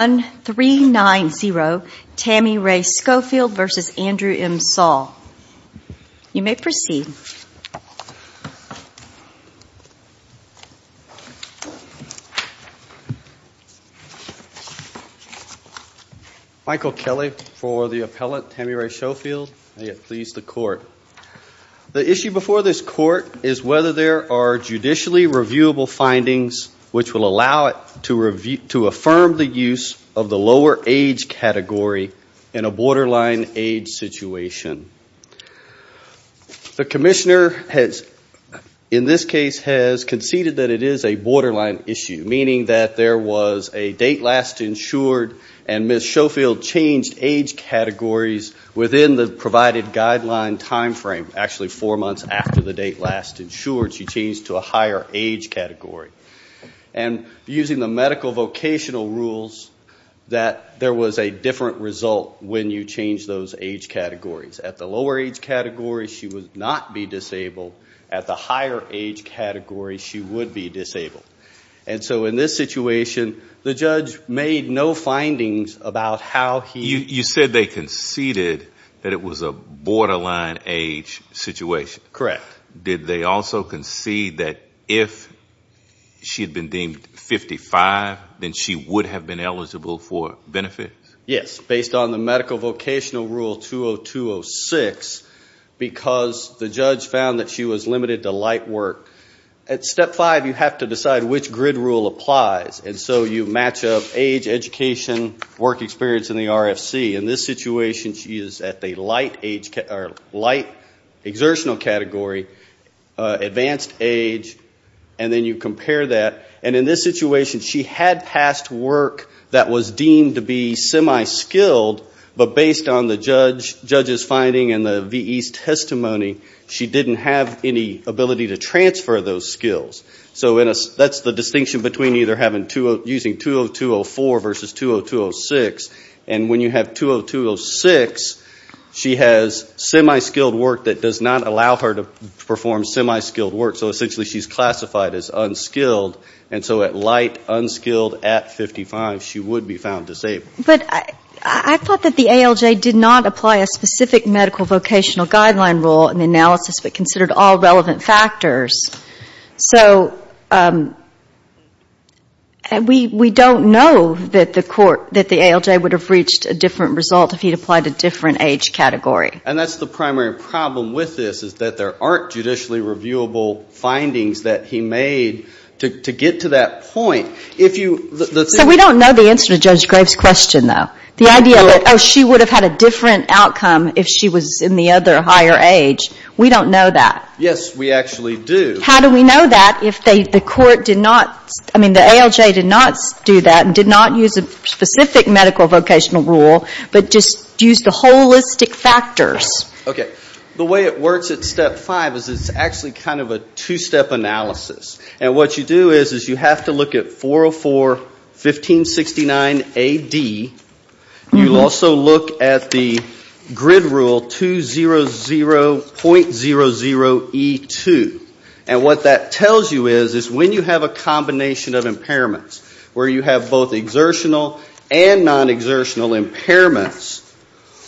1390, Tammy Rae Schofield v. Andrew M. Saul. You may proceed. Michael Kelly for the appellate, Tammy Rae Schofield. May it please the Court. The issue before this Court is whether there are judicially reviewable findings which will allow it to affirm the use of the lower age category in a borderline age situation. The Commissioner in this case has conceded that it is a borderline issue, meaning that there was a date last insured and Ms. Schofield changed age categories within the provided guideline timeframe, actually four months after the date last insured, she changed to a higher age category. And using the medical vocational rules, that there was a different result when you change those age categories. At the lower age category, she would not be disabled. At the higher age category, she would be disabled. And so in this situation, the judge made no findings about how he... You said they conceded that it was a borderline age situation. Correct. Did they also concede that if she had been deemed 55, then she would have been eligible for benefits? Yes. Based on the medical vocational rule 20206, because the judge found that she was limited to light work. At step five, you have to decide which grid rule applies. And so you match up age, education, work experience in the advanced age, and then you compare that. And in this situation, she had passed work that was deemed to be semi-skilled, but based on the judge's finding and the VE's testimony, she didn't have any ability to transfer those skills. So that's the distinction between either using 20204 versus 20206. And when you have 20206, she has semi-skilled work that does not allow her to perform semi-skilled work. So essentially she's classified as unskilled. And so at light, unskilled, at 55, she would be found disabled. But I thought that the ALJ did not apply a specific medical vocational guideline rule in the analysis, but considered all relevant factors. So we don't know that the ALJ would have reached a different result if he'd applied a different age category. And that's the primary problem with this is that there aren't judicially reviewable findings that he made to get to that point. So we don't know the answer to Judge Graves' question, though. The idea that, oh, she would have had a different outcome if she was in the other higher age, we don't know that. Yes, we actually do. How do we know that if the ALJ did not do that and did not use a specific medical vocational rule, but just used the holistic factors? The way it works at Step 5 is it's actually kind of a two-step analysis. And what you do is you have to look at 404.1569AD. You also look at the grid rule 200.00E2. And what that tells you is when you have a combination of impairments, where you have both exertional and non-exertional impairments,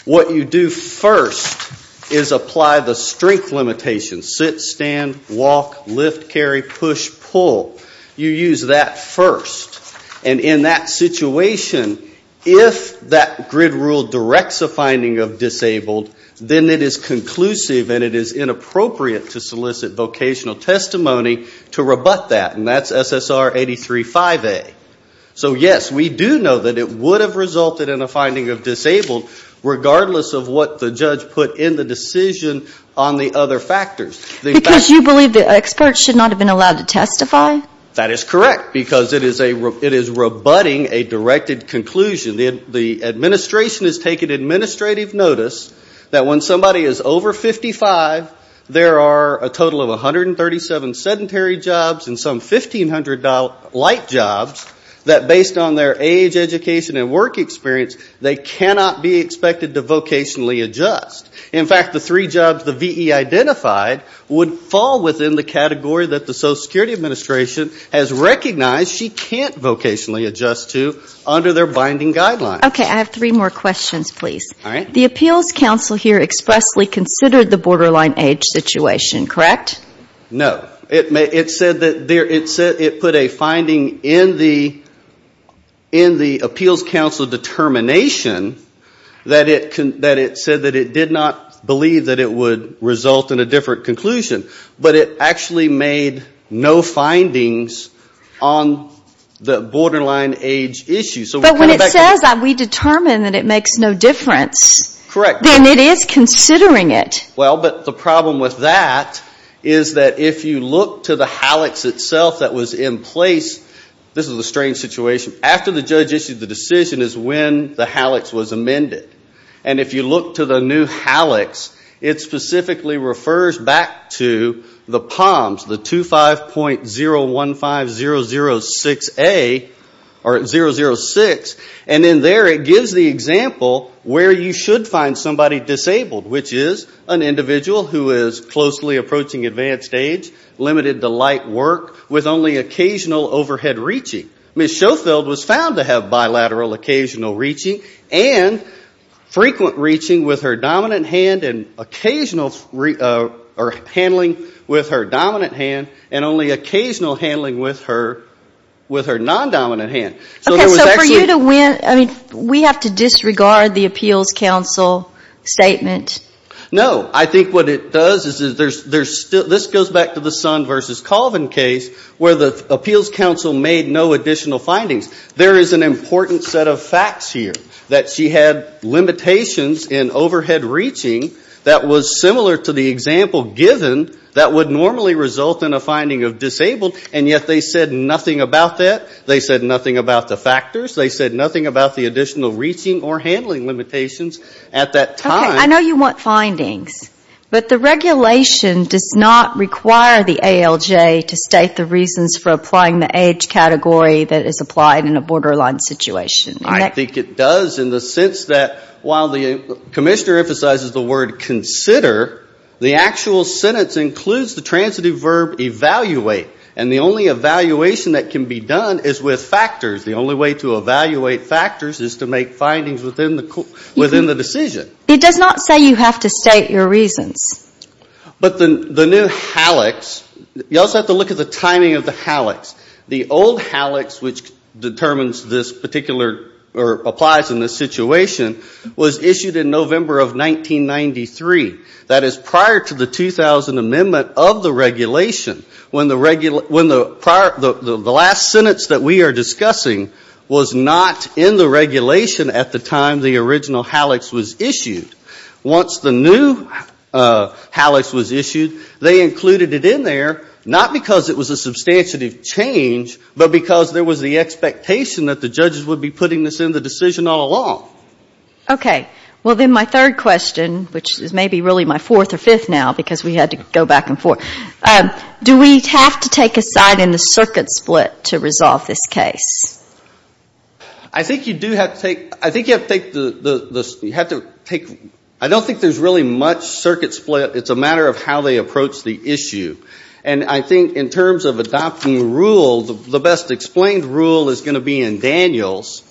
what you do first is apply the strength limitation, sit, stand, walk, lift, carry, push, pull. You use that first. And in that situation, if that grid rule directs a finding of disabled, then it is conclusive and it is inappropriate to solicit vocational testimony to rebut that. And that's SSR 835A. So yes, we do know that it would have resulted in a finding of disabled, regardless of what the judge put in the decision on the other factors. Because you believe that experts should not have been allowed to testify? That is correct, because it is rebutting a directed conclusion. The administration has taken administrative notice that when somebody is over 55, there are a total of 137 sedentary jobs and some 1,500 light jobs that, based on their age, education and work experience, they cannot be expected to vocationally adjust. In fact, the three jobs the V.E. identified would fall within the category that the Social Security Administration has recognized she can't vocationally adjust to under their binding guidelines. Okay. I have three more questions, please. The Appeals Council here expressly considered the borderline age situation, correct? No. It said that it put a finding in the Appeals Council determination that it said that it did not believe that it would result in a different conclusion. But it actually made no findings on the borderline age issue. But when it says that we determine that it makes no difference, then it is considering it. The problem with that is that if you look to the HALEX itself that was in place, this is a strange situation. After the judge issued the decision is when the HALEX was amended. If you look to the new HALEX, it specifically refers back to the POMS, the 25.015006A or 006. And in there it gives the example where you should find somebody disabled, which is an individual who is closely approaching advanced age, limited to light work, with only occasional overhead reaching. Ms. Schofield was found to have bilateral occasional reaching and frequent reaching with her dominant hand and occasional handling with her dominant hand and only occasional handling with her non-dominant hand. So for you to win, we have to disregard the Appeals Council statement? No. I think what it does is there's still, this goes back to the Son v. Colvin case where the Appeals Council made no additional findings. There is an important set of facts here that she had limitations in overhead reaching that was similar to the example given that would normally result in a finding of disabled, and yet they said nothing about that. They said nothing about the factors. They said nothing about the additional reaching or handling limitations at that time. I know you want findings, but the regulation does not require the ALJ to state the reasons for applying the age category that is applied in a borderline situation. I think it does in the sense that while the Commissioner emphasizes the word consider, the actual sentence includes the transitive verb evaluate. And the only evaluation that can be done is with factors. The only way to evaluate factors is to make findings within the decision. It does not say you have to state your reasons. But the new HALEX, you also have to look at the timing of the HALEX. The old HALEX which determines this particular, or applies in this situation, was issued in November of 1993. That is prior to the 2000 amendment of the regulation when the last sentence that we are discussing was not in the regulation at the time the original HALEX was issued. Once the new HALEX was issued, they included it in there, not because it was a substantive change, but because there was the expectation that the judges would be putting this in the decision all along. Okay. Well, then my third question, which is maybe really my fourth or fifth now because we had to go back and forth, do we have to take a side in the circuit split to resolve this case? I think you do have to take, I don't think there is really much circuit split. It is a matter of how they approach the issue. And I think in terms of adopting rule, the best explained rule is going to be in Daniels,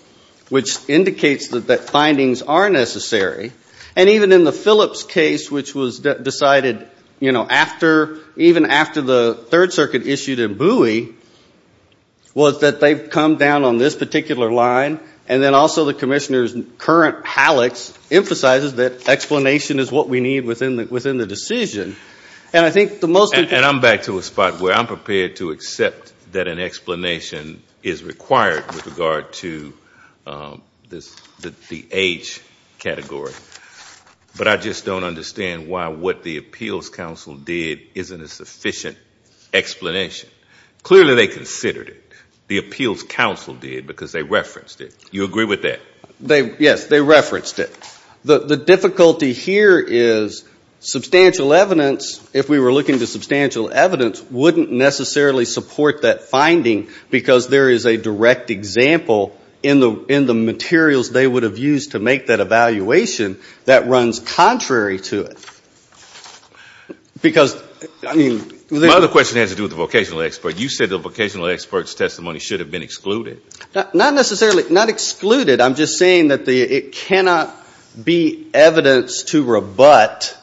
which indicates that findings are necessary. And even in the Phillips case, which was decided, you know, after, even after the Third Circuit issued a buoy, was that they have come down on this particular line, and then also the Commissioner's current HALEX emphasizes that explanation is what we need within the decision. And I think the most important... And I am back to a spot where I am prepared to accept that an explanation is required with regard to this, the H category. But I just don't understand why what the Appeals Council did isn't a sufficient explanation. Clearly they considered it. The Appeals Council did because they referenced it. You agree with that? Yes, they referenced it. The difficulty here is substantial evidence, if we were looking to substantial evidence, wouldn't necessarily support that finding because there is a direct example in the materials they would have used to make that evaluation that runs contrary to it. Because, I mean... My other question has to do with the vocational expert. You said the vocational expert's testimony should have been excluded. Not necessarily, not excluded. I am just saying that it cannot be evidence to rebut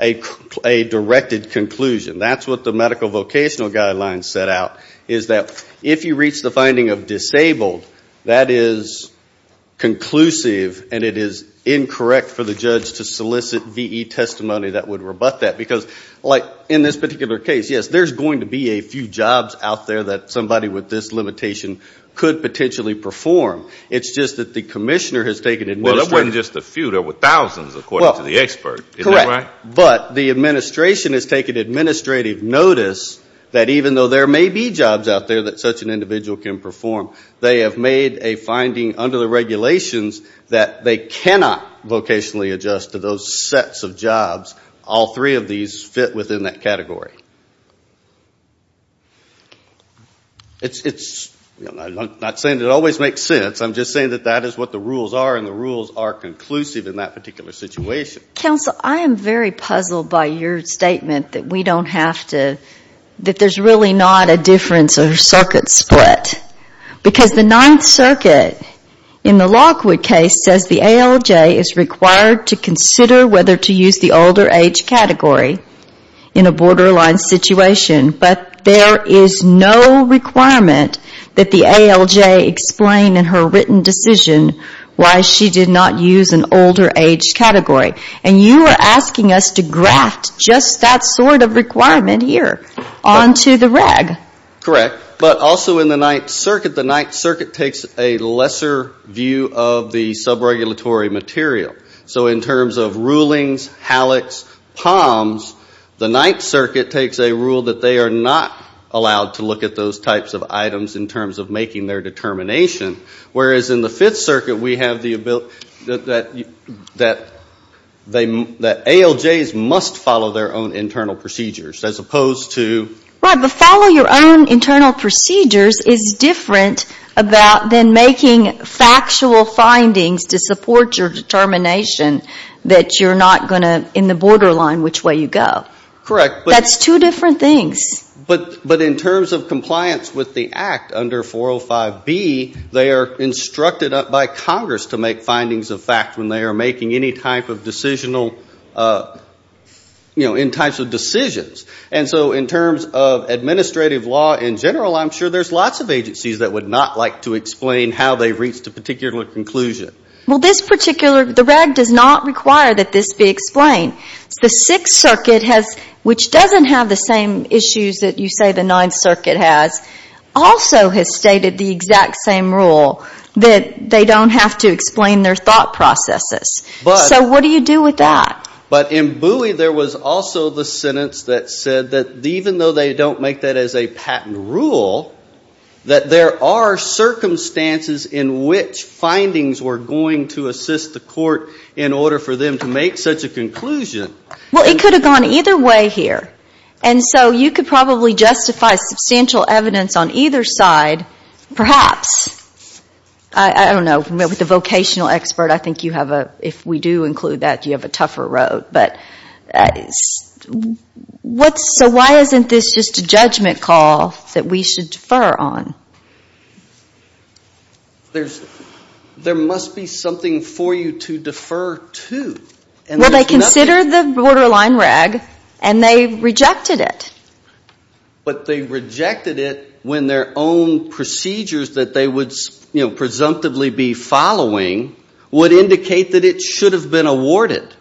a directed conclusion. That is what the medical vocational guidelines set out, is that if you reach the finding of disabled, that is conclusive and it is incorrect for the judge to solicit VE. Testimony that would rebut that. Because in this particular case, yes, there is going to be a few jobs out there that somebody with this limitation could potentially perform. It's just that the commissioner has taken administrative... Well, that wasn't just a few, there were thousands according to the expert, isn't that right? Correct. But the administration has taken administrative notice that even though there may be jobs out there that such an individual can perform, they have made a finding under the regulations that they cannot vocationally adjust to those sets of jobs. All three of these fit within that category. It's... I'm not saying it always makes sense, I'm just saying that that is what the rules are and the rules are conclusive in that particular situation. Counsel, I am very puzzled by your statement that we don't have to... that there's really not a difference or circuit split. Because the Ninth Circuit in the Lockwood case says the ALJ is required to consider whether to use the older age category in a borderline situation, but there is no requirement that the ALJ explain in her written decision why she did not use an older age category. And you are asking us to graft just that sort of requirement here onto the reg. Correct. But also in the Ninth Circuit, the Ninth Circuit takes a lesser view of the sub-regulatory material. So in terms of rulings, hallux, poms, the Ninth Circuit takes a rule that they are not allowed to look at those types of items in terms of making their determination. Whereas in the Fifth Circuit we have the ability... that ALJs must follow their own internal procedures, as opposed to... Right, but follow your own internal procedures is different about than making factual findings to support your determination that you're not going to, in the borderline, which way you go. Correct. That's two different things. But in terms of compliance with the Act under 405B, they are instructed by Congress to make those types of decisions. And so in terms of administrative law in general, I'm sure there's lots of agencies that would not like to explain how they reached a particular conclusion. Well, this particular... the reg does not require that this be explained. The Sixth Circuit has... which doesn't have the same issues that you say the Ninth Circuit has, also has stated the exact same rule, that they don't have to explain their thought processes. So what do you do with that? But in Bowie there was also the sentence that said that even though they don't make that as a patent rule, that there are circumstances in which findings were going to assist the court in order for them to make such a conclusion. Well, it could have gone either way here. And so you could probably justify substantial evidence on either side, perhaps. I don't know. With a vocational expert, I think you have a... if we do include that, you have a tougher road. But what's... so why isn't this just a judgment call that we should defer on? There must be something for you to defer to. Well, they considered the borderline reg and they rejected it. But they rejected it when their own procedures that they would, you know, presumptively be following, would indicate that it should have been awarded.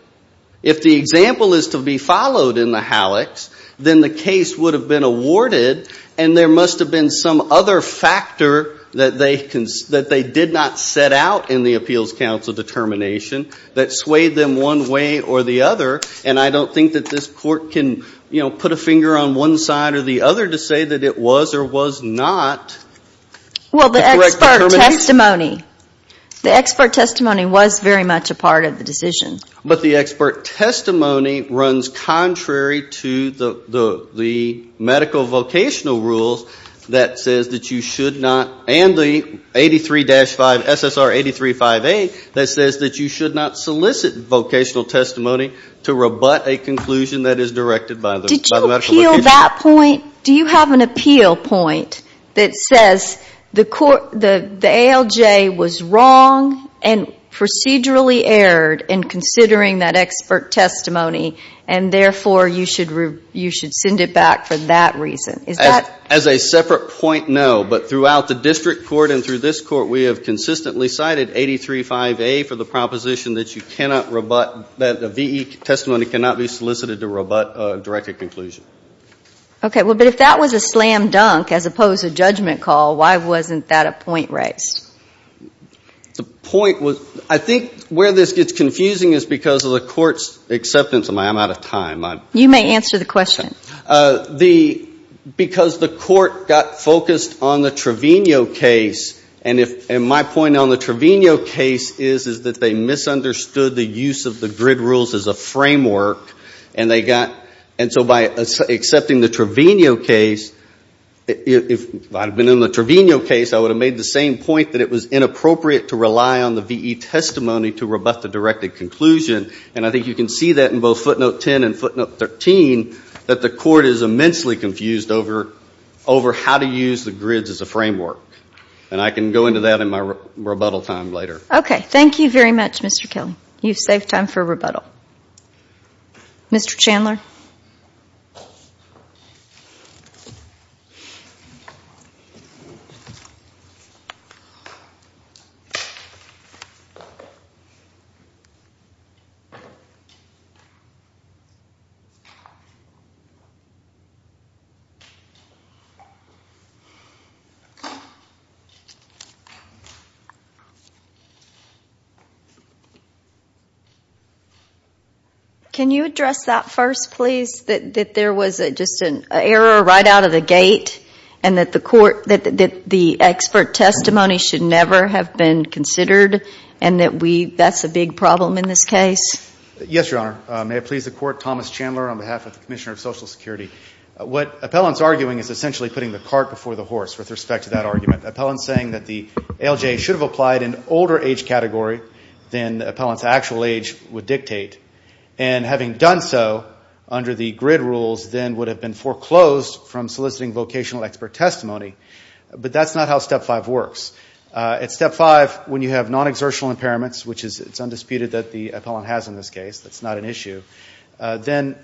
If the example is to be followed in the HALEX, then the case would have been awarded and there must have been some other factor that they did not set out in the Appeals Council determination that swayed them one way or the other. And I don't think that this court can, you know, put a finger on one side or the other to say that it was or was not the correct determination. The expert testimony. The expert testimony was very much a part of the decision. But the expert testimony runs contrary to the medical vocational rules that says that you should not... and the 83-5, SSR 83-5A, that says that you should not solicit vocational testimony to rebut a conclusion that is directed by the medical vocational... Did you appeal that point? Do you have an appeal point that says the ALJ was wrong and procedurally erred in considering that expert testimony and therefore you should send it back for that reason? Is that... As a separate point, no. But throughout the district court and through this court, we have consistently cited 83-5A for the proposition that you cannot rebut... that a VE testimony cannot be solicited to rebut a directed conclusion. Okay. Well, but if that was a slam dunk as opposed to a judgment call, why wasn't that a point raised? The point was... I think where this gets confusing is because of the court's acceptance of my... I'm out of time. You may answer the question. Because the court got focused on the Trevino case and if... and my point on the Trevino case is that they misunderstood the use of the grid rules as a framework and they got... And so by accepting the Trevino case, if I'd have been in the Trevino case, I would have made the same point that it was inappropriate to rely on the VE testimony to rebut the directed conclusion. And I think you can see that in both footnote 10 and footnote 13, that the court is immensely confused over how to use the grids as a framework. And I can go into that in my rebuttal time later. Okay. Thank you very much, Mr. Kelly. You've saved time for rebuttal. Mr. Chandler? Can you address that first, please? That there was just an error right out of the gate and that the expert testimony should never have been considered and that we... that's a big problem in this case? Yes, Your Honor. May it please the court, Thomas Chandler on behalf of the Commissioner of Social Security. What Appellant's arguing is essentially putting the cart before the wheel. ALJ should have applied an older age category than the Appellant's actual age would dictate. And having done so under the grid rules, then would have been foreclosed from soliciting vocational expert testimony. But that's not how Step 5 works. At Step 5, when you have non-exertional impairments, which is... it's undisputed that the Appellant has in this case. That's not an issue. Then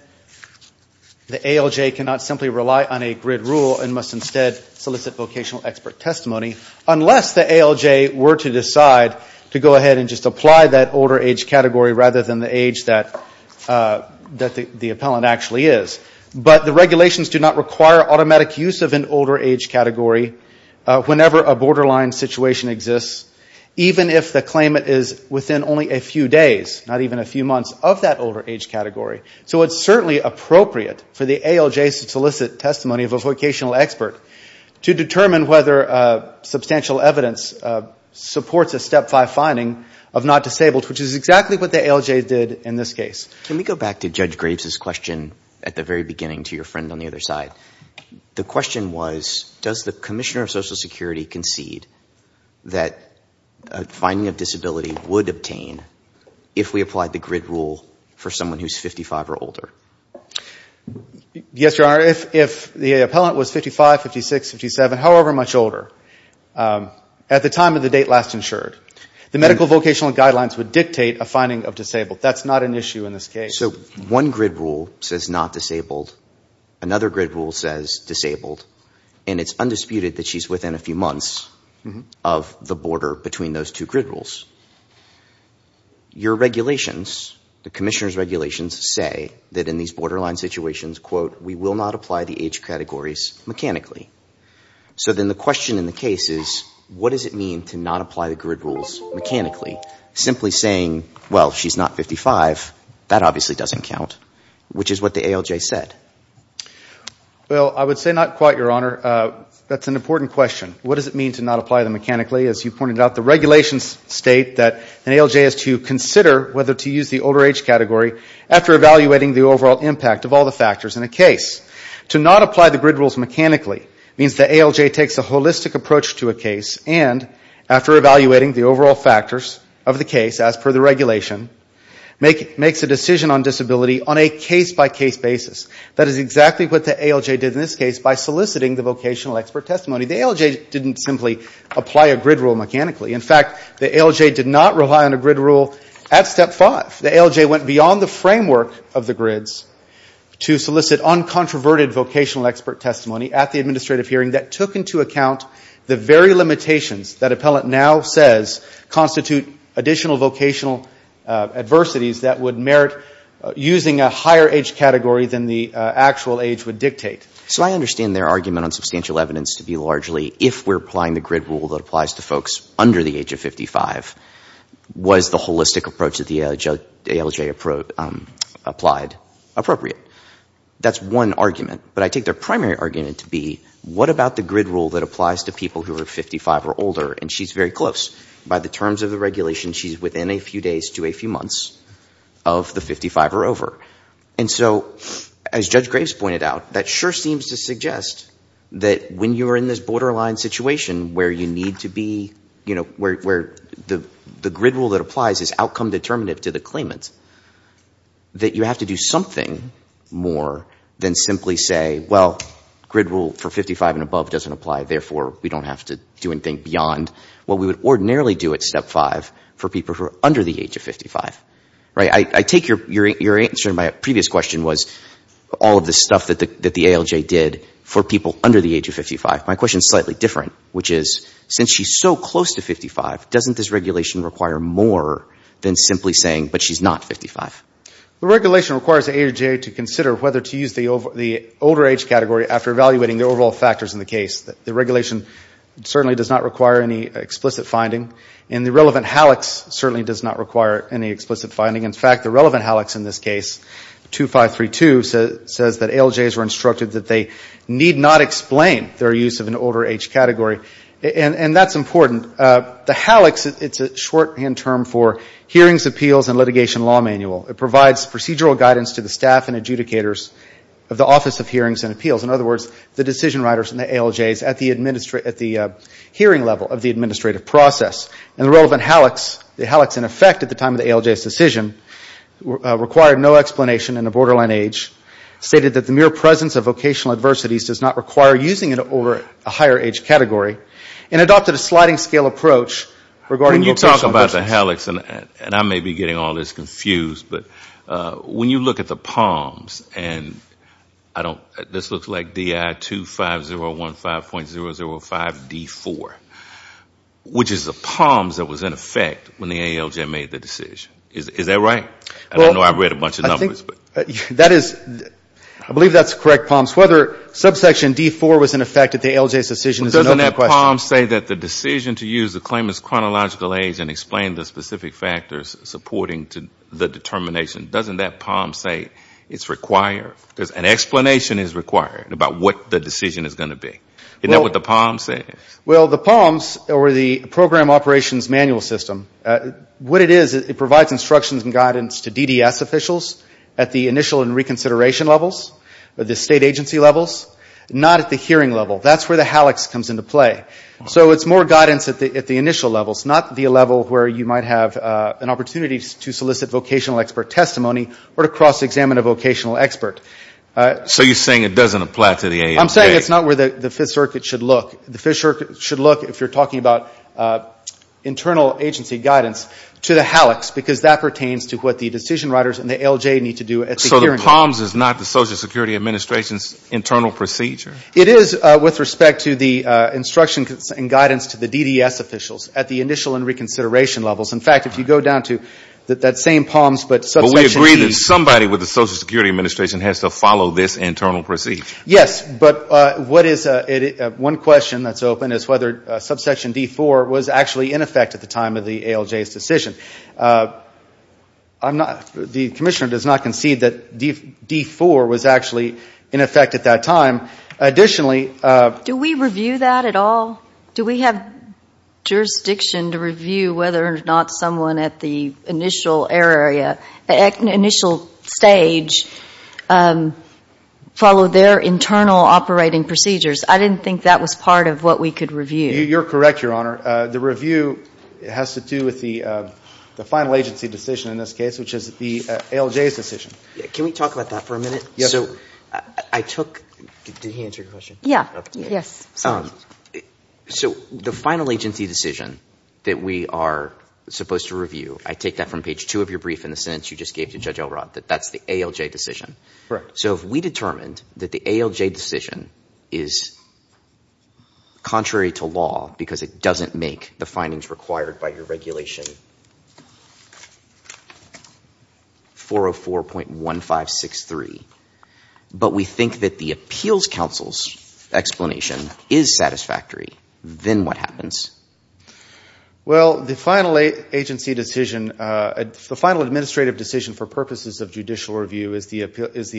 the ALJ cannot simply rely on a grid rule and must instead solicit vocational expert testimony unless the ALJ were to decide to go ahead and just apply that older age category rather than the age that the Appellant actually is. But the regulations do not require automatic use of an older age category whenever a borderline situation exists, even if the claimant is within only a few days, not even a few months of that older age category. So it's certainly appropriate for the ALJ to solicit testimony of a vocational expert to determine whether substantial evidence supports a Step 5 finding of not disabled, which is exactly what the ALJ did in this case. Can we go back to Judge Graves's question at the very beginning to your friend on the other side? The question was, does the Commissioner of Social Security concede that a finding of disability would obtain if we applied the grid rule for someone who's 55 or older? Yes, Your Honor. If the Appellant was 55, 56, 57, however much older, at the time of the date last insured, the medical vocational guidelines would dictate a finding of disabled. That's not an issue in this case. So one grid rule says not disabled, another grid rule says disabled, and it's undisputed that she's within a few months of the border between those two grid rules. Your regulations, the Commissioner's regulations, say that in these borderline situations, quote, we will not apply the age categories mechanically. So then the question in the case is, what does it mean to not apply the grid rules mechanically? Simply saying, well, she's not 55, that obviously doesn't count, which is what the ALJ said. Well, I would say not quite, Your Honor. That's an important question. What does it mean to not apply them mechanically? As you pointed out, the regulations state that an ALJ has to consider whether to use the older age category after evaluating the overall impact of all the factors in a case. To not apply the grid rules mechanically means the ALJ takes a holistic approach to a case and, after evaluating the overall factors of the case as per the regulation, makes a decision on disability on a case-by-case basis. That is exactly what the ALJ did in this case by soliciting the vocational expert testimony. The ALJ didn't simply apply a grid rule mechanically. In fact, the ALJ did not rely on a grid rule at Step 5. The ALJ went beyond the framework of the grids to solicit uncontroverted vocational expert testimony at the administrative hearing that took into account the very limitations that Appellant now says constitute additional vocational adversities that would merit using a higher age category than the actual age would dictate. So I understand their argument on substantial evidence to be largely, if we're applying the grid rule that applies to folks under the age of 55, was the holistic approach that the ALJ applied appropriate. That's one argument. But I take their primary argument to be, what about the grid rule that applies to people who are 55 or older? And she's very close. By the terms of the regulation, she's within a few days to a few months of the 55 or over. And so, as Judge Graves pointed out, that sure seems to suggest that when you're in this borderline situation where you need to be, you know, where the grid rule that applies is outcome-determinative to the claimant, that you have to do something more than simply say, well, grid rule for 55 and above doesn't apply, therefore we don't have to do anything beyond what we would ordinarily do at Step 5 for people who are under the age of 55. Right? I take your answer to my previous question was, all of the stuff that the ALJ did for people under the age of 55. My question is slightly different, which is, since she's so close to 55, doesn't this regulation require more than simply saying, but she's not 55? The regulation requires the ALJ to consider whether to use the older age category after evaluating the overall factors in the case. The regulation certainly does not require any explicit finding. And the relevant HALX certainly does not require any explicit finding. In fact, the relevant HALX in this case, 2532, says that ALJs were instructed that they need not explain their use of an older age category. And that's important. The HALX, it's a shorthand term for Hearings, Appeals and Litigation Law Manual. It provides procedural guidance to the staff and adjudicators of the Office of Hearings and Appeals. In other words, the decision writers and the ALJs at the hearing level of the administrative process. And the relevant HALX, the HALX in effect at the time of the ALJ's decision, required no explanation in a borderline age, stated that the mere presence of vocational adversities does not require using an older, a higher age category, and adopted a sliding scale approach regarding Dr. Michael McClendon. When you talk about the HALX, and I may be getting all this confused, but when you look at the PALMS, and this looks like DI 25015.005D4, which is the PALMS that was in effect when the ALJ made the decision. Is that right? I know I've read a bunch of it. I believe that's correct, PALMS. Whether subsection D4 was in effect at the ALJ's decision is another question. But doesn't that PALMS say that the decision to use the claimant's chronological age and explain the specific factors supporting the determination, doesn't that PALMS say it's required? An explanation is required about what the decision is going to be. Isn't that what the PALMS says? Well, the PALMS, or the Program Operations Manual System, what it is, it provides instructions and guidance to DDS officials at the initial and reconsideration levels, the state agency levels, not at the hearing level. That's where the HALX comes into play. So it's more guidance at the initial levels, not the level where you might have an opportunity to solicit vocational expert testimony or to cross-examine a vocational expert. So you're saying it doesn't apply to the ALJ? I'm saying it's not where the Fifth Circuit should look. The Fifth Circuit should look, if you're talking about internal agency guidance, to the HALX, because that pertains to what the decision writers and the ALJ need to do at the hearing level. So the PALMS is not the Social Security Administration's internal procedure? It is with respect to the instructions and guidance to the DDS officials at the initial and reconsideration levels. In fact, if you go down to that same PALMS, but Subsection C. But we agree that somebody with the Social Security Administration has to follow this internal procedure? Yes. But one question that's open is whether Subsection D.4. was actually in effect at the time of the ALJ's decision. The Commissioner does not concede that D.4. was actually in effect at that time. Additionally Do we review that at all? Do we have jurisdiction to review whether or not someone at the initial area, initial stage, followed their internal operating procedures? I didn't think that was part of what we could review. You're correct, Your Honor. The review has to do with the final agency decision in this case, which is the ALJ's decision. Can we talk about that for a minute? Yes, sir. So I took – did he answer your question? Yes. So the final agency decision that we are supposed to review, I take that from page two of your brief in the sentence you just gave to Judge Elrod, that that's the ALJ decision. Correct. So if we determined that the ALJ decision is contrary to law because it doesn't make the findings required by your regulation 404.1563, but we think that the appeals counsel's explanation is satisfactory, then what happens? Well, the final agency decision – the final administrative decision for purposes of judicial review is the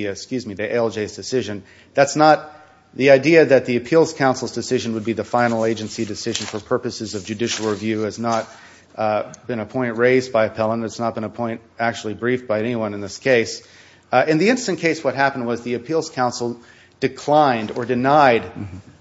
– excuse me, the ALJ's decision. That's not – the idea that the appeals counsel's decision would be the final agency decision for purposes of judicial review has not been a point raised by appellant. It's not been a point actually briefed by anyone in this case. In the instant case, what happened was the appeals counsel declined or denied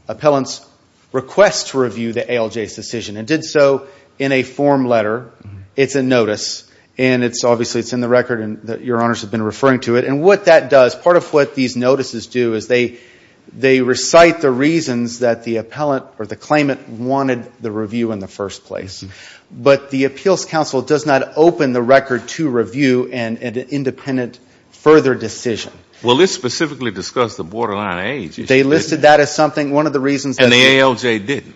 appellant's request to review the ALJ's decision and did so in a form letter. It's a notice, and it's obviously – it's in the record and your honors have been referring to it. And what that does, part of what these notices do is they recite the reasons that the appellant or the claimant wanted the review in the first place. But the appeals counsel does not open the record to review an independent further decision. Well, let's specifically discuss the borderline age issue. They listed that as something – one of the reasons that – And the ALJ didn't.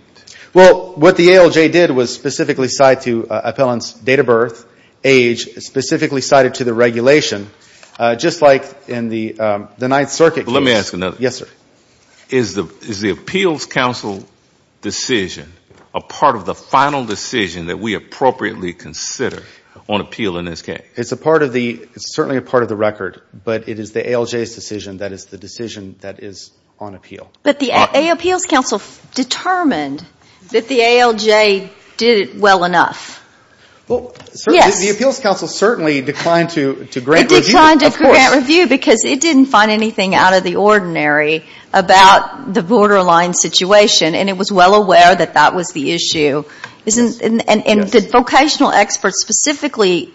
Well, what the ALJ did was specifically cite to appellant's date of birth, age, specifically cited to the regulation, just like in the Ninth Circuit case. Let me ask another. Yes, sir. Is the appeals counsel decision a part of the final decision that we appropriately consider on appeal in this case? It's a part of the – it's certainly a part of the record, but it is the ALJ's decision that is the decision that is on appeal. But the appeals counsel determined that the ALJ did it well enough. Well, the appeals counsel certainly declined to grant review. It declined to grant review because it didn't find anything out of the ordinary about the borderline situation, and it was well aware that that was the issue. And the vocational expert specifically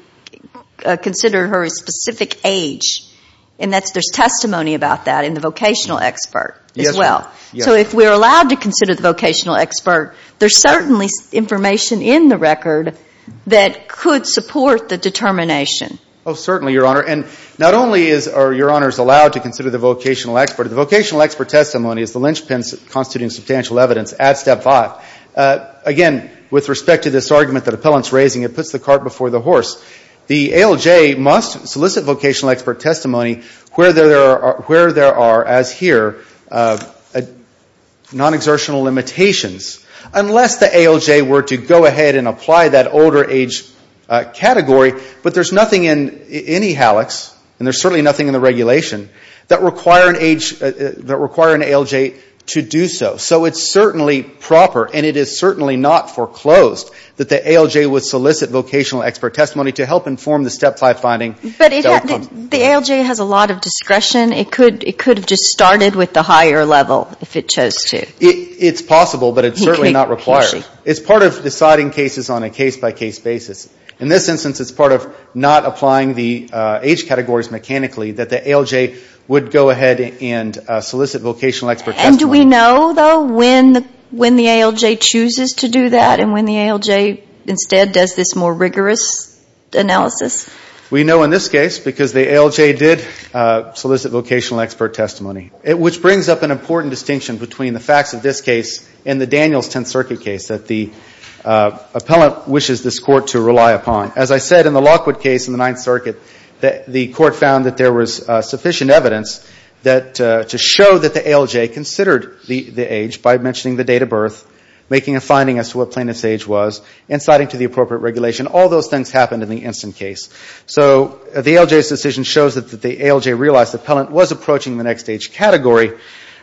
considered her a specific age, and that's – there's testimony about that in the vocational expert as well. Yes, ma'am. So if we're allowed to consider the vocational expert, there's certainly information in the record that could support the determination. Oh, certainly, Your Honor. And not only is – are Your Honors allowed to consider the vocational expert, the vocational expert testimony is the linchpin constituting substantial evidence at step five. Again, with respect to this argument that the appellant's raising, it puts the cart before the horse. The ALJ must solicit vocational expert testimony where there are, as here, non-exertional limitations, unless the ALJ were to go ahead and apply that older age category. But there's nothing in any HALEX, and there's certainly nothing in the regulation, that require an age – that require an ALJ to do so. So it's certainly proper, and it is certainly not foreclosed, that the ALJ would solicit vocational expert testimony to help inform the step five finding – But it – the ALJ has a lot of discretion. It could – it could have just started with the higher level if it chose to. It's possible, but it's certainly not required. It's part of deciding cases on a case-by-case basis. In this instance, it's part of not applying the age categories mechanically, that the ALJ would go ahead and solicit vocational expert testimony. And do we know, though, when the ALJ chooses to do that, and when the ALJ instead does this more rigorous analysis? We know in this case, because the ALJ did solicit vocational expert testimony, which brings up an important distinction between the facts of this case and the Daniels Tenth Circuit case that the appellant wishes this Court to rely upon. As I said, in the Lockwood case in the Ninth Circuit, the Court found that there was sufficient evidence that – to show that the ALJ considered the age by mentioning the date of birth, making a finding as to what plaintiff's age was, and citing to the appropriate regulation. All those things happened in the instant case. So the ALJ's decision shows that the ALJ realized the appellant was approaching the next age category.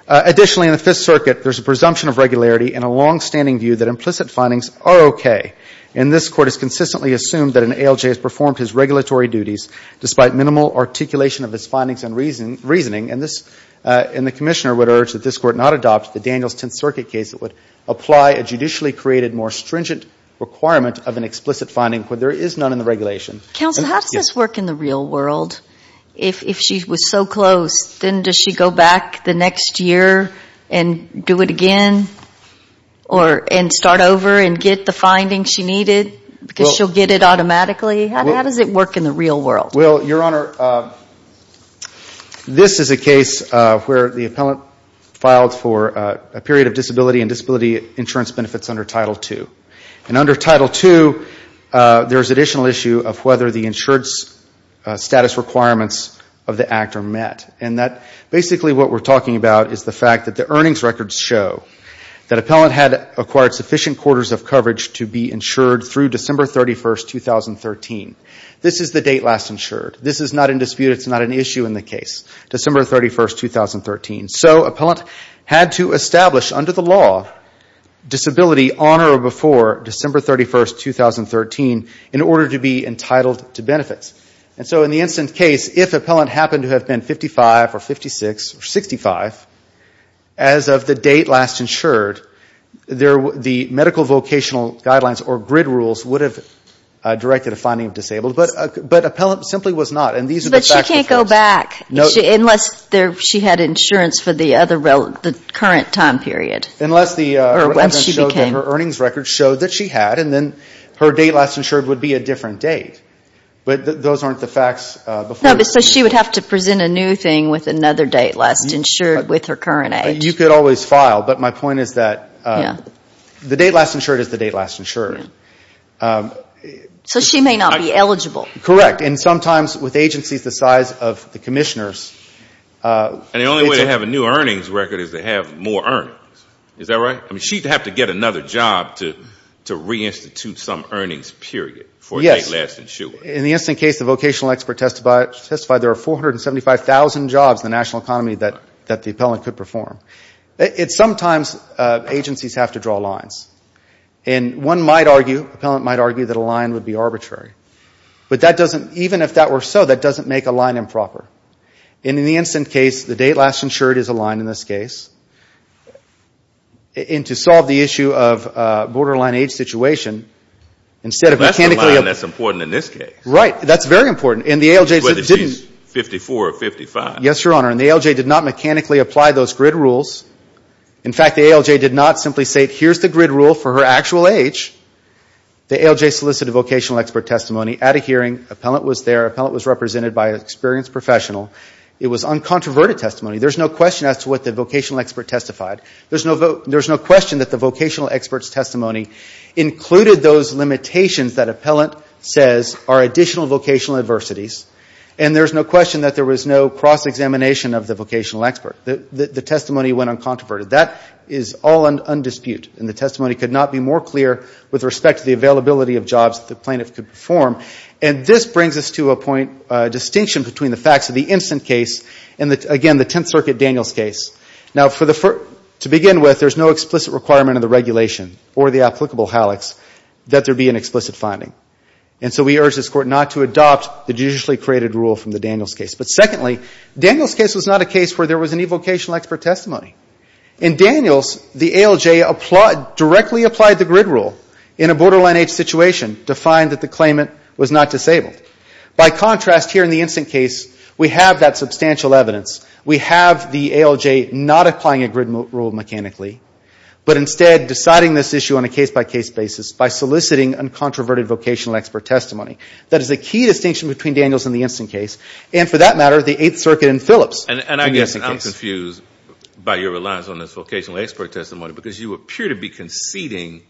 Additionally, in the Fifth Circuit, there's a presumption of regularity and a longstanding view that implicit findings are okay. And this Court has consistently assumed that an ALJ has performed his regulatory duties despite minimal articulation of his findings and reasoning. And this – and the Commissioner would urge that this Court not adopt the Daniels Tenth Circuit case that would apply a judicially created, more stringent requirement of an explicit finding where there is none in the regulation. Counsel, how does this work in the real world? If she was so close, then does she go back the next year and do it again? Or – and start over and get the findings she needed because she'll get it automatically? How does it work in the real world? Well, Your Honor, this is a case where the appellant filed for a period of disability and disability insurance benefits under Title II. And under Title II, there's additional issue of whether the insurance status requirements of the act are met. And that – basically what we're talking about is the fact that the earnings records show that appellant had acquired sufficient quarters of coverage to be insured through December 31, 2013. This is the date last insured. This is not in dispute. It's not an issue in the case, December 31, 2013. So appellant had to establish under the law disability on or before December 31, 2013 in order to be entitled to benefits. And so in the instant case, if appellant happened to have been 55 or 56 or 65, as of the date last insured, the medical vocational guidelines or grid rules would have directed a finding of disabled. But appellant simply was not. And these are the facts. But she can't go back. No. Unless she had insurance for the other – the current time period. Unless the – Or once she became – Her earnings records showed that she had. And then her date last insured would be a different date. But those aren't the facts before the – No, but so she would have to present a new thing with another date last insured with her current age. You could always file. But my point is that the date last insured is the date last insured. So she may not be eligible. Correct. And sometimes with agencies the size of the commissioners – And the only way to have a new earnings record is to have more earnings. Is that right? I mean, she'd have to get another job to re-institute some earnings period for a date last insured. Yes. In the instant case, the vocational expert testified there were 475,000 jobs in the national and could perform. Sometimes agencies have to draw lines. And one might argue – appellant might argue that a line would be arbitrary. But that doesn't – even if that were so, that doesn't make a line improper. And in the instant case, the date last insured is a line in this case. And to solve the issue of borderline age situation, instead of mechanically – That's the line that's important in this case. Right. That's very important. And the ALJ didn't – Whether she's 54 or 55. Yes, Your Honor. And the ALJ did not mechanically apply those grid rules. In fact, the ALJ did not simply say, here's the grid rule for her actual age. The ALJ solicited a vocational expert testimony at a hearing. Appellant was there. Appellant was represented by an experienced professional. It was uncontroverted testimony. There's no question as to what the vocational expert testified. There's no question that the vocational expert's testimony included those limitations that appellant says are additional vocational adversities. And there's no question that there was no cross-examination of the vocational expert. The testimony went uncontroverted. That is all undisputed. And the testimony could not be more clear with respect to the availability of jobs that the plaintiff could perform. And this brings us to a point – distinction between the facts of the instant case and, again, the Tenth Circuit Daniels case. Now for the – to begin with, there's no explicit requirement of the regulation or the applicable HALEX that there be an explicit finding. And so we urge this Court not to adopt the judicially created rule from the Daniels case. But secondly, Daniels case was not a case where there was any vocational expert testimony. In Daniels, the ALJ applied – directly applied the grid rule in a borderline H situation to find that the claimant was not disabled. By contrast, here in the instant case, we have that substantial evidence. We have the ALJ not applying a grid rule mechanically, but instead deciding this issue on a case-by-case basis by soliciting uncontroverted vocational expert testimony. That is a key distinction between Daniels and the instant case. And for that matter, the Eighth Circuit and Phillips. And I guess I'm confused by your reliance on this vocational expert testimony because you appear to be conceding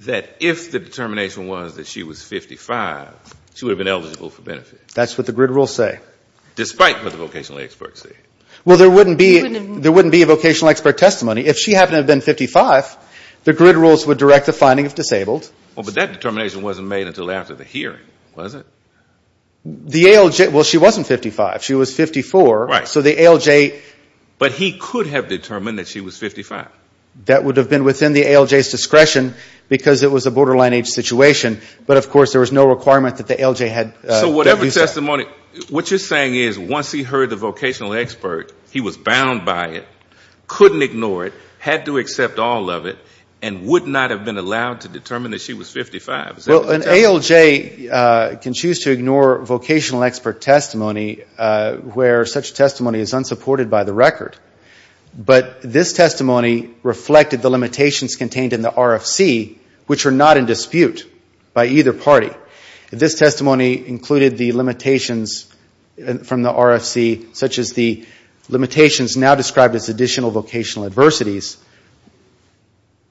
that if the determination was that she was 55, she would have been eligible for benefit. That's what the grid rules say. Despite what the vocational experts say. Well, there wouldn't be – there wouldn't be a vocational expert testimony. If she happened to have been 55, the grid rules would direct the finding of disabled. Well, but that determination wasn't made until after the hearing, was it? The ALJ – well, she wasn't 55. She was 54. Right. So the ALJ – But he could have determined that she was 55. That would have been within the ALJ's discretion because it was a borderline H situation. But of course, there was no requirement that the ALJ had – So whatever testimony – what you're saying is once he heard the vocational expert, he was bound by it, couldn't ignore it, had to accept all of it, and would not have been allowed to determine that she was 55, is that what you're saying? Well, an ALJ can choose to ignore vocational expert testimony where such testimony is unsupported by the record. But this testimony reflected the limitations contained in the RFC, which are not in dispute by either party. This testimony included the limitations from the RFC, such as the limitations now described as additional vocational adversities,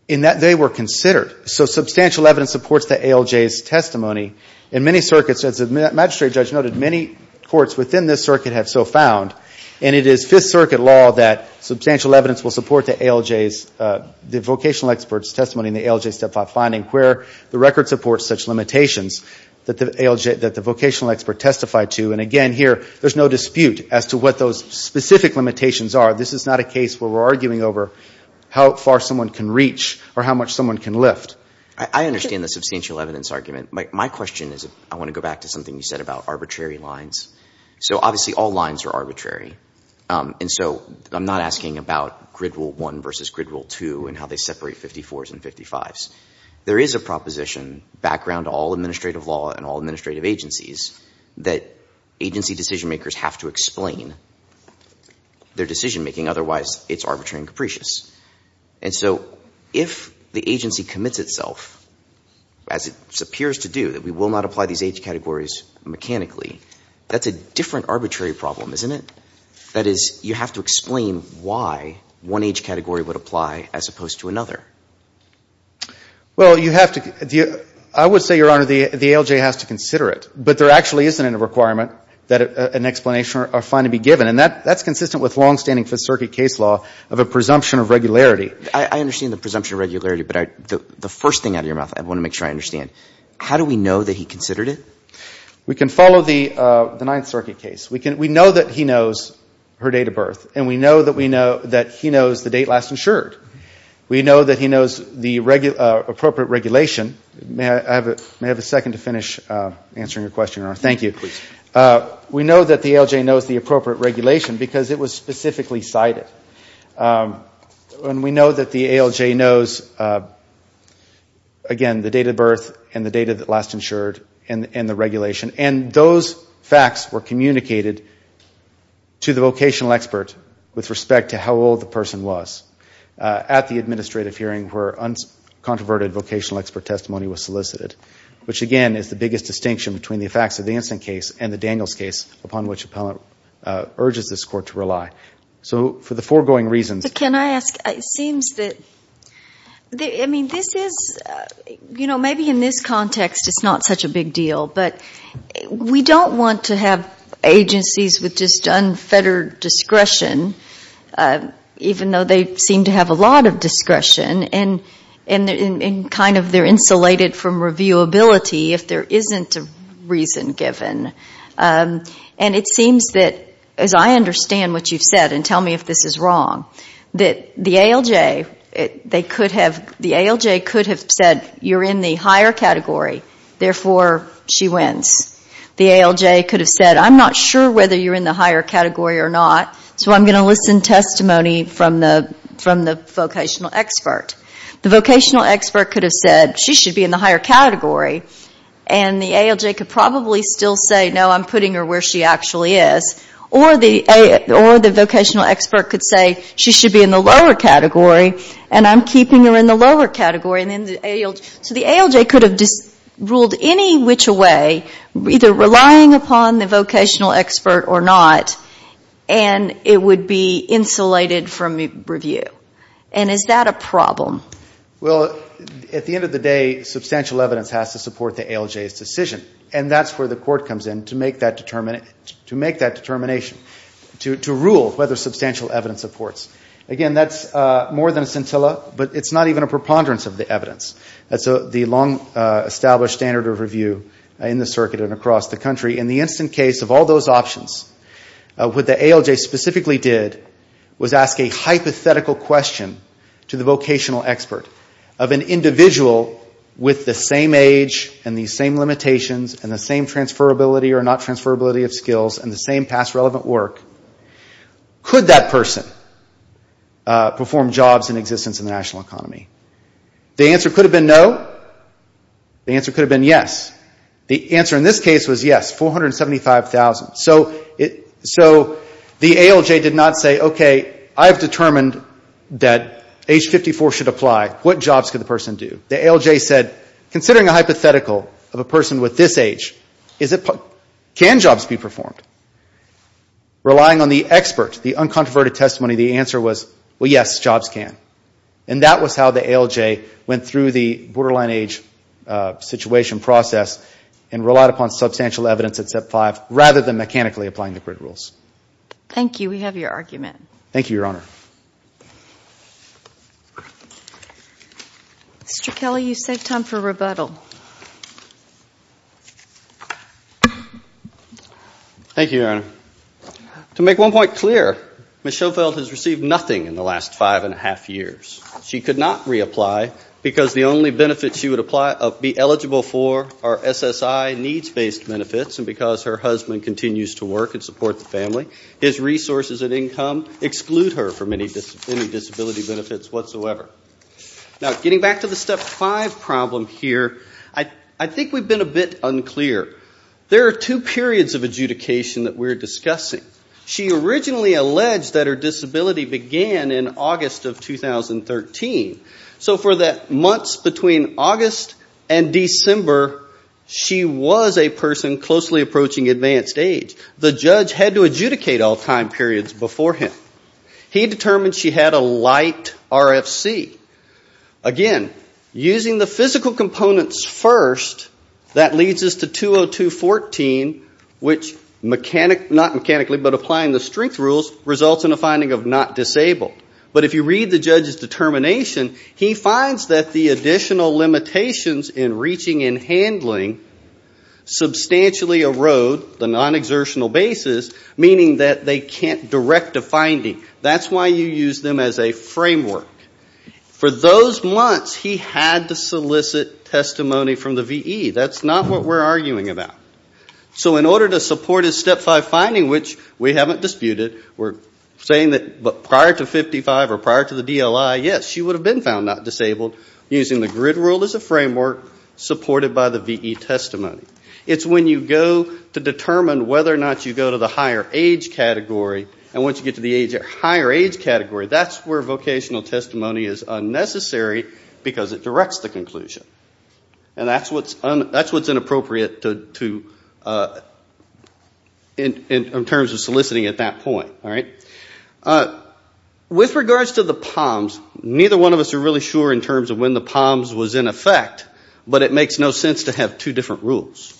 in that they were considered. So substantial evidence supports the ALJ's testimony. In many circuits, as the magistrate judge noted, many courts within this circuit have so found, and it is Fifth Circuit law that substantial evidence will support the ALJ's – the vocational expert's testimony in the ALJ Step 5 finding where the record supports such limitations that the ALJ – that the vocational expert testified to. And again, here, there's no dispute as to what those specific limitations are. This is not a case where we're arguing over how far someone can reach or how much someone can lift. I understand the substantial evidence argument. My question is – I want to go back to something you said about arbitrary lines. So obviously, all lines are arbitrary, and so I'm not asking about grid rule 1 versus grid rule 2 and how they separate 54s and 55s. There is a proposition background to all administrative law and all administrative agencies that agency decision-makers have to explain their decision-making, otherwise it's arbitrary and capricious. And so if the agency commits itself, as it appears to do, that we will not apply these age categories mechanically, that's a different arbitrary problem, isn't it? That is, you have to explain why one age category would apply as opposed to another. Well, you have to – I would say, Your Honor, the ALJ has to consider it. But there actually isn't a requirement that an explanation or finding be given. And that's consistent with longstanding Fifth Circuit case law of a presumption of regularity. I understand the presumption of regularity, but the first thing out of your mouth I want to make sure I understand. How do we know that he considered it? We can follow the Ninth Circuit case. We know that he knows her date of birth. And we know that he knows the date last insured. We know that he knows the appropriate regulation – may I have a second to finish answering your question, Your Honor? Thank you. We know that the ALJ knows the appropriate regulation because it was specifically cited. And we know that the ALJ knows, again, the date of birth and the date of last insured and the regulation. And those facts were communicated to the vocational expert with respect to how old the person was at the administrative hearing where uncontroverted vocational expert testimony was solicited, which again is the biggest distinction between the facts of the Anson case and the Daniels case upon which Appellant urges this Court to rely. So for the foregoing reasons – But can I ask – it seems that – I mean, this is – you know, maybe in this context it's not such a big deal. But we don't want to have agencies with just unfettered discretion, even though they seem to have a lot of discretion and kind of they're insulated from reviewability if there isn't a reason given. And it seems that, as I understand what you've said, and tell me if this is wrong, that the ALJ could have said, you're in the higher category, therefore she wins. The ALJ could have said, I'm not sure whether you're in the higher category or not, so I'm going to listen to testimony from the vocational expert. The vocational expert could have said, she should be in the higher category. And the ALJ could probably still say, no, I'm putting her where she actually is. Or the vocational expert could say, she should be in the lower category, and I'm keeping her in the lower category, and then the ALJ – so the ALJ could have ruled any which a way, either relying upon the vocational expert or not, and it would be insulated from review. And is that a problem? Well, at the end of the day, substantial evidence has to support the ALJ's decision. And that's where the court comes in, to make that determination, to rule whether substantial evidence supports. Again, that's more than a scintilla, but it's not even a preponderance of the evidence. That's the long-established standard of review in the circuit and across the country. In the instant case of all those options, what the ALJ specifically did was ask a hypothetical question to the vocational expert of an individual with the same age and the same limitations and the same transferability or not transferability of skills and the same past relevant work. Could that person perform jobs in existence in the national economy? The answer could have been no. The answer could have been yes. The answer in this case was yes, 475,000. So the ALJ did not say, okay, I've determined that age 54 should apply. What jobs could the person do? The ALJ said, considering a hypothetical of a person with this age, can jobs be performed? Relying on the expert, the uncontroverted testimony, the answer was, well, yes, jobs can. And that was how the ALJ went through the borderline age situation process and relied upon substantial evidence at Step 5 rather than mechanically applying the grid rules. Thank you. We have your argument. Thank you, Your Honor. Mr. Kelly, you saved time for rebuttal. Thank you, Your Honor. To make one point clear, Ms. Schofield has received nothing in the last five and a half years. She could not reapply because the only benefits she would be eligible for are SSI needs-based benefits. And because her husband continues to work and support the family, his resources and income exclude her from any disability benefits whatsoever. Now, getting back to the Step 5 problem here, I think we've been a bit unclear. There are two periods of adjudication that we're discussing. She originally alleged that her disability began in August of 2013. So for the months between August and December, she was a person closely approaching advanced age. The judge had to adjudicate all time periods before him. He determined she had a light RFC. Again, using the physical components first, that leads us to 202.14, which, not mechanically but applying the strength rules, results in a finding of not disabled. But if you read the judge's determination, he finds that the additional limitations in reaching and handling substantially erode the non-exertional basis, meaning that they can't direct a finding. That's why you use them as a framework. For those months, he had to solicit testimony from the VE. That's not what we're arguing about. So in order to support his Step 5 finding, which we haven't disputed, we're saying that prior to 55 or prior to the DLI, yes, she would have been found not disabled using the grid rule as a framework supported by the VE testimony. It's when you go to determine whether or not you go to the higher age category, and once you get to the higher age category, that's where vocational testimony is unnecessary because it directs the conclusion. And that's what's inappropriate in terms of soliciting at that point. With regards to the POMs, neither one of us are really sure in terms of when the POMs was in effect, but it makes no sense to have two different rules.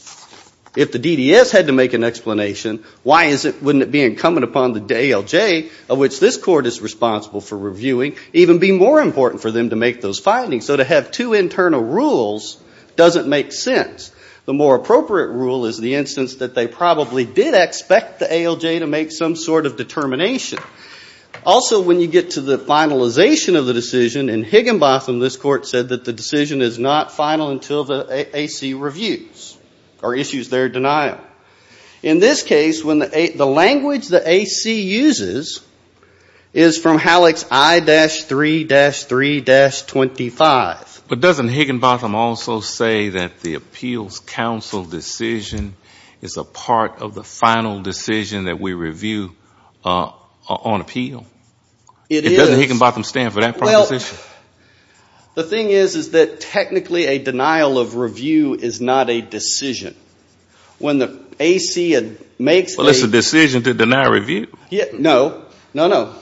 If the DDS had to make an explanation, why wouldn't it be incumbent upon the ALJ, of which this Court is responsible for reviewing, even be more important for them to make those findings? So to have two internal rules doesn't make sense. The more appropriate rule is the instance that they probably did expect the ALJ to make some sort of determination. Also when you get to the finalization of the decision, in Higginbotham, this Court said that the decision is not final until the AC reviews or issues their denial. In this case, the language the AC uses is from Halleck's I-3-3-25. But doesn't Higginbotham also say that the Appeals Council decision is a part of the final decision that we review on appeal? It is. Doesn't Higginbotham stand for that proposition? The thing is, is that technically a denial of review is not a decision. When the AC makes a decision to deny review. No, no, no.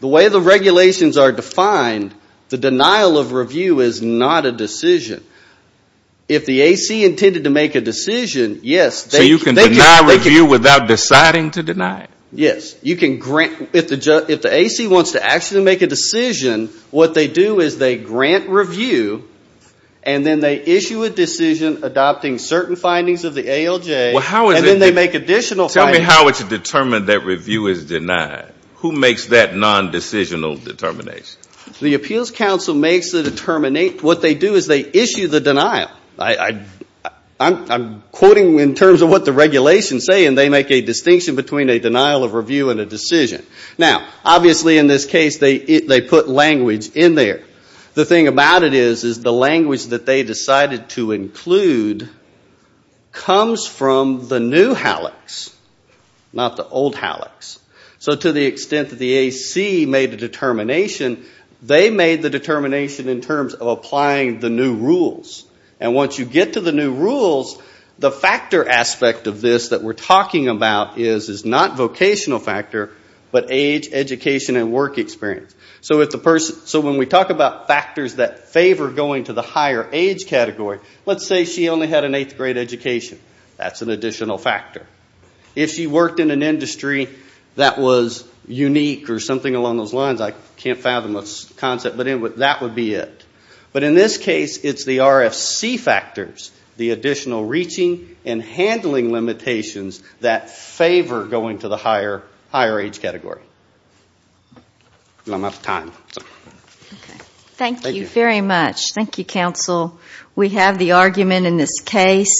The way the regulations are defined, the denial of review is not a decision. If the AC intended to make a decision, yes, they can. So you can deny review without deciding to deny it? Yes. You can grant. If the AC wants to actually make a decision, what they do is they grant review, and then they issue a decision adopting certain findings of the ALJ, and then they make additional findings. Tell me how it's determined that review is denied. Who makes that nondecisional determination? The Appeals Council makes the determination. What they do is they issue the denial. I'm quoting in terms of what the regulations say, and they make a distinction between a review and a decision. Now, obviously in this case, they put language in there. The thing about it is, is the language that they decided to include comes from the new HALEX, not the old HALEX. So to the extent that the AC made a determination, they made the determination in terms of applying the new rules. And once you get to the new rules, the factor aspect of this that we're talking about is not vocational factor, but age, education, and work experience. So when we talk about factors that favor going to the higher age category, let's say she only had an eighth grade education. That's an additional factor. If she worked in an industry that was unique or something along those lines, I can't fathom a concept, but that would be it. But in this case, it's the RFC factors, the additional reaching and handling limitations that favor going to the higher age category. Well, I'm out of time. Thank you very much. Thank you, counsel. We have the argument in this case.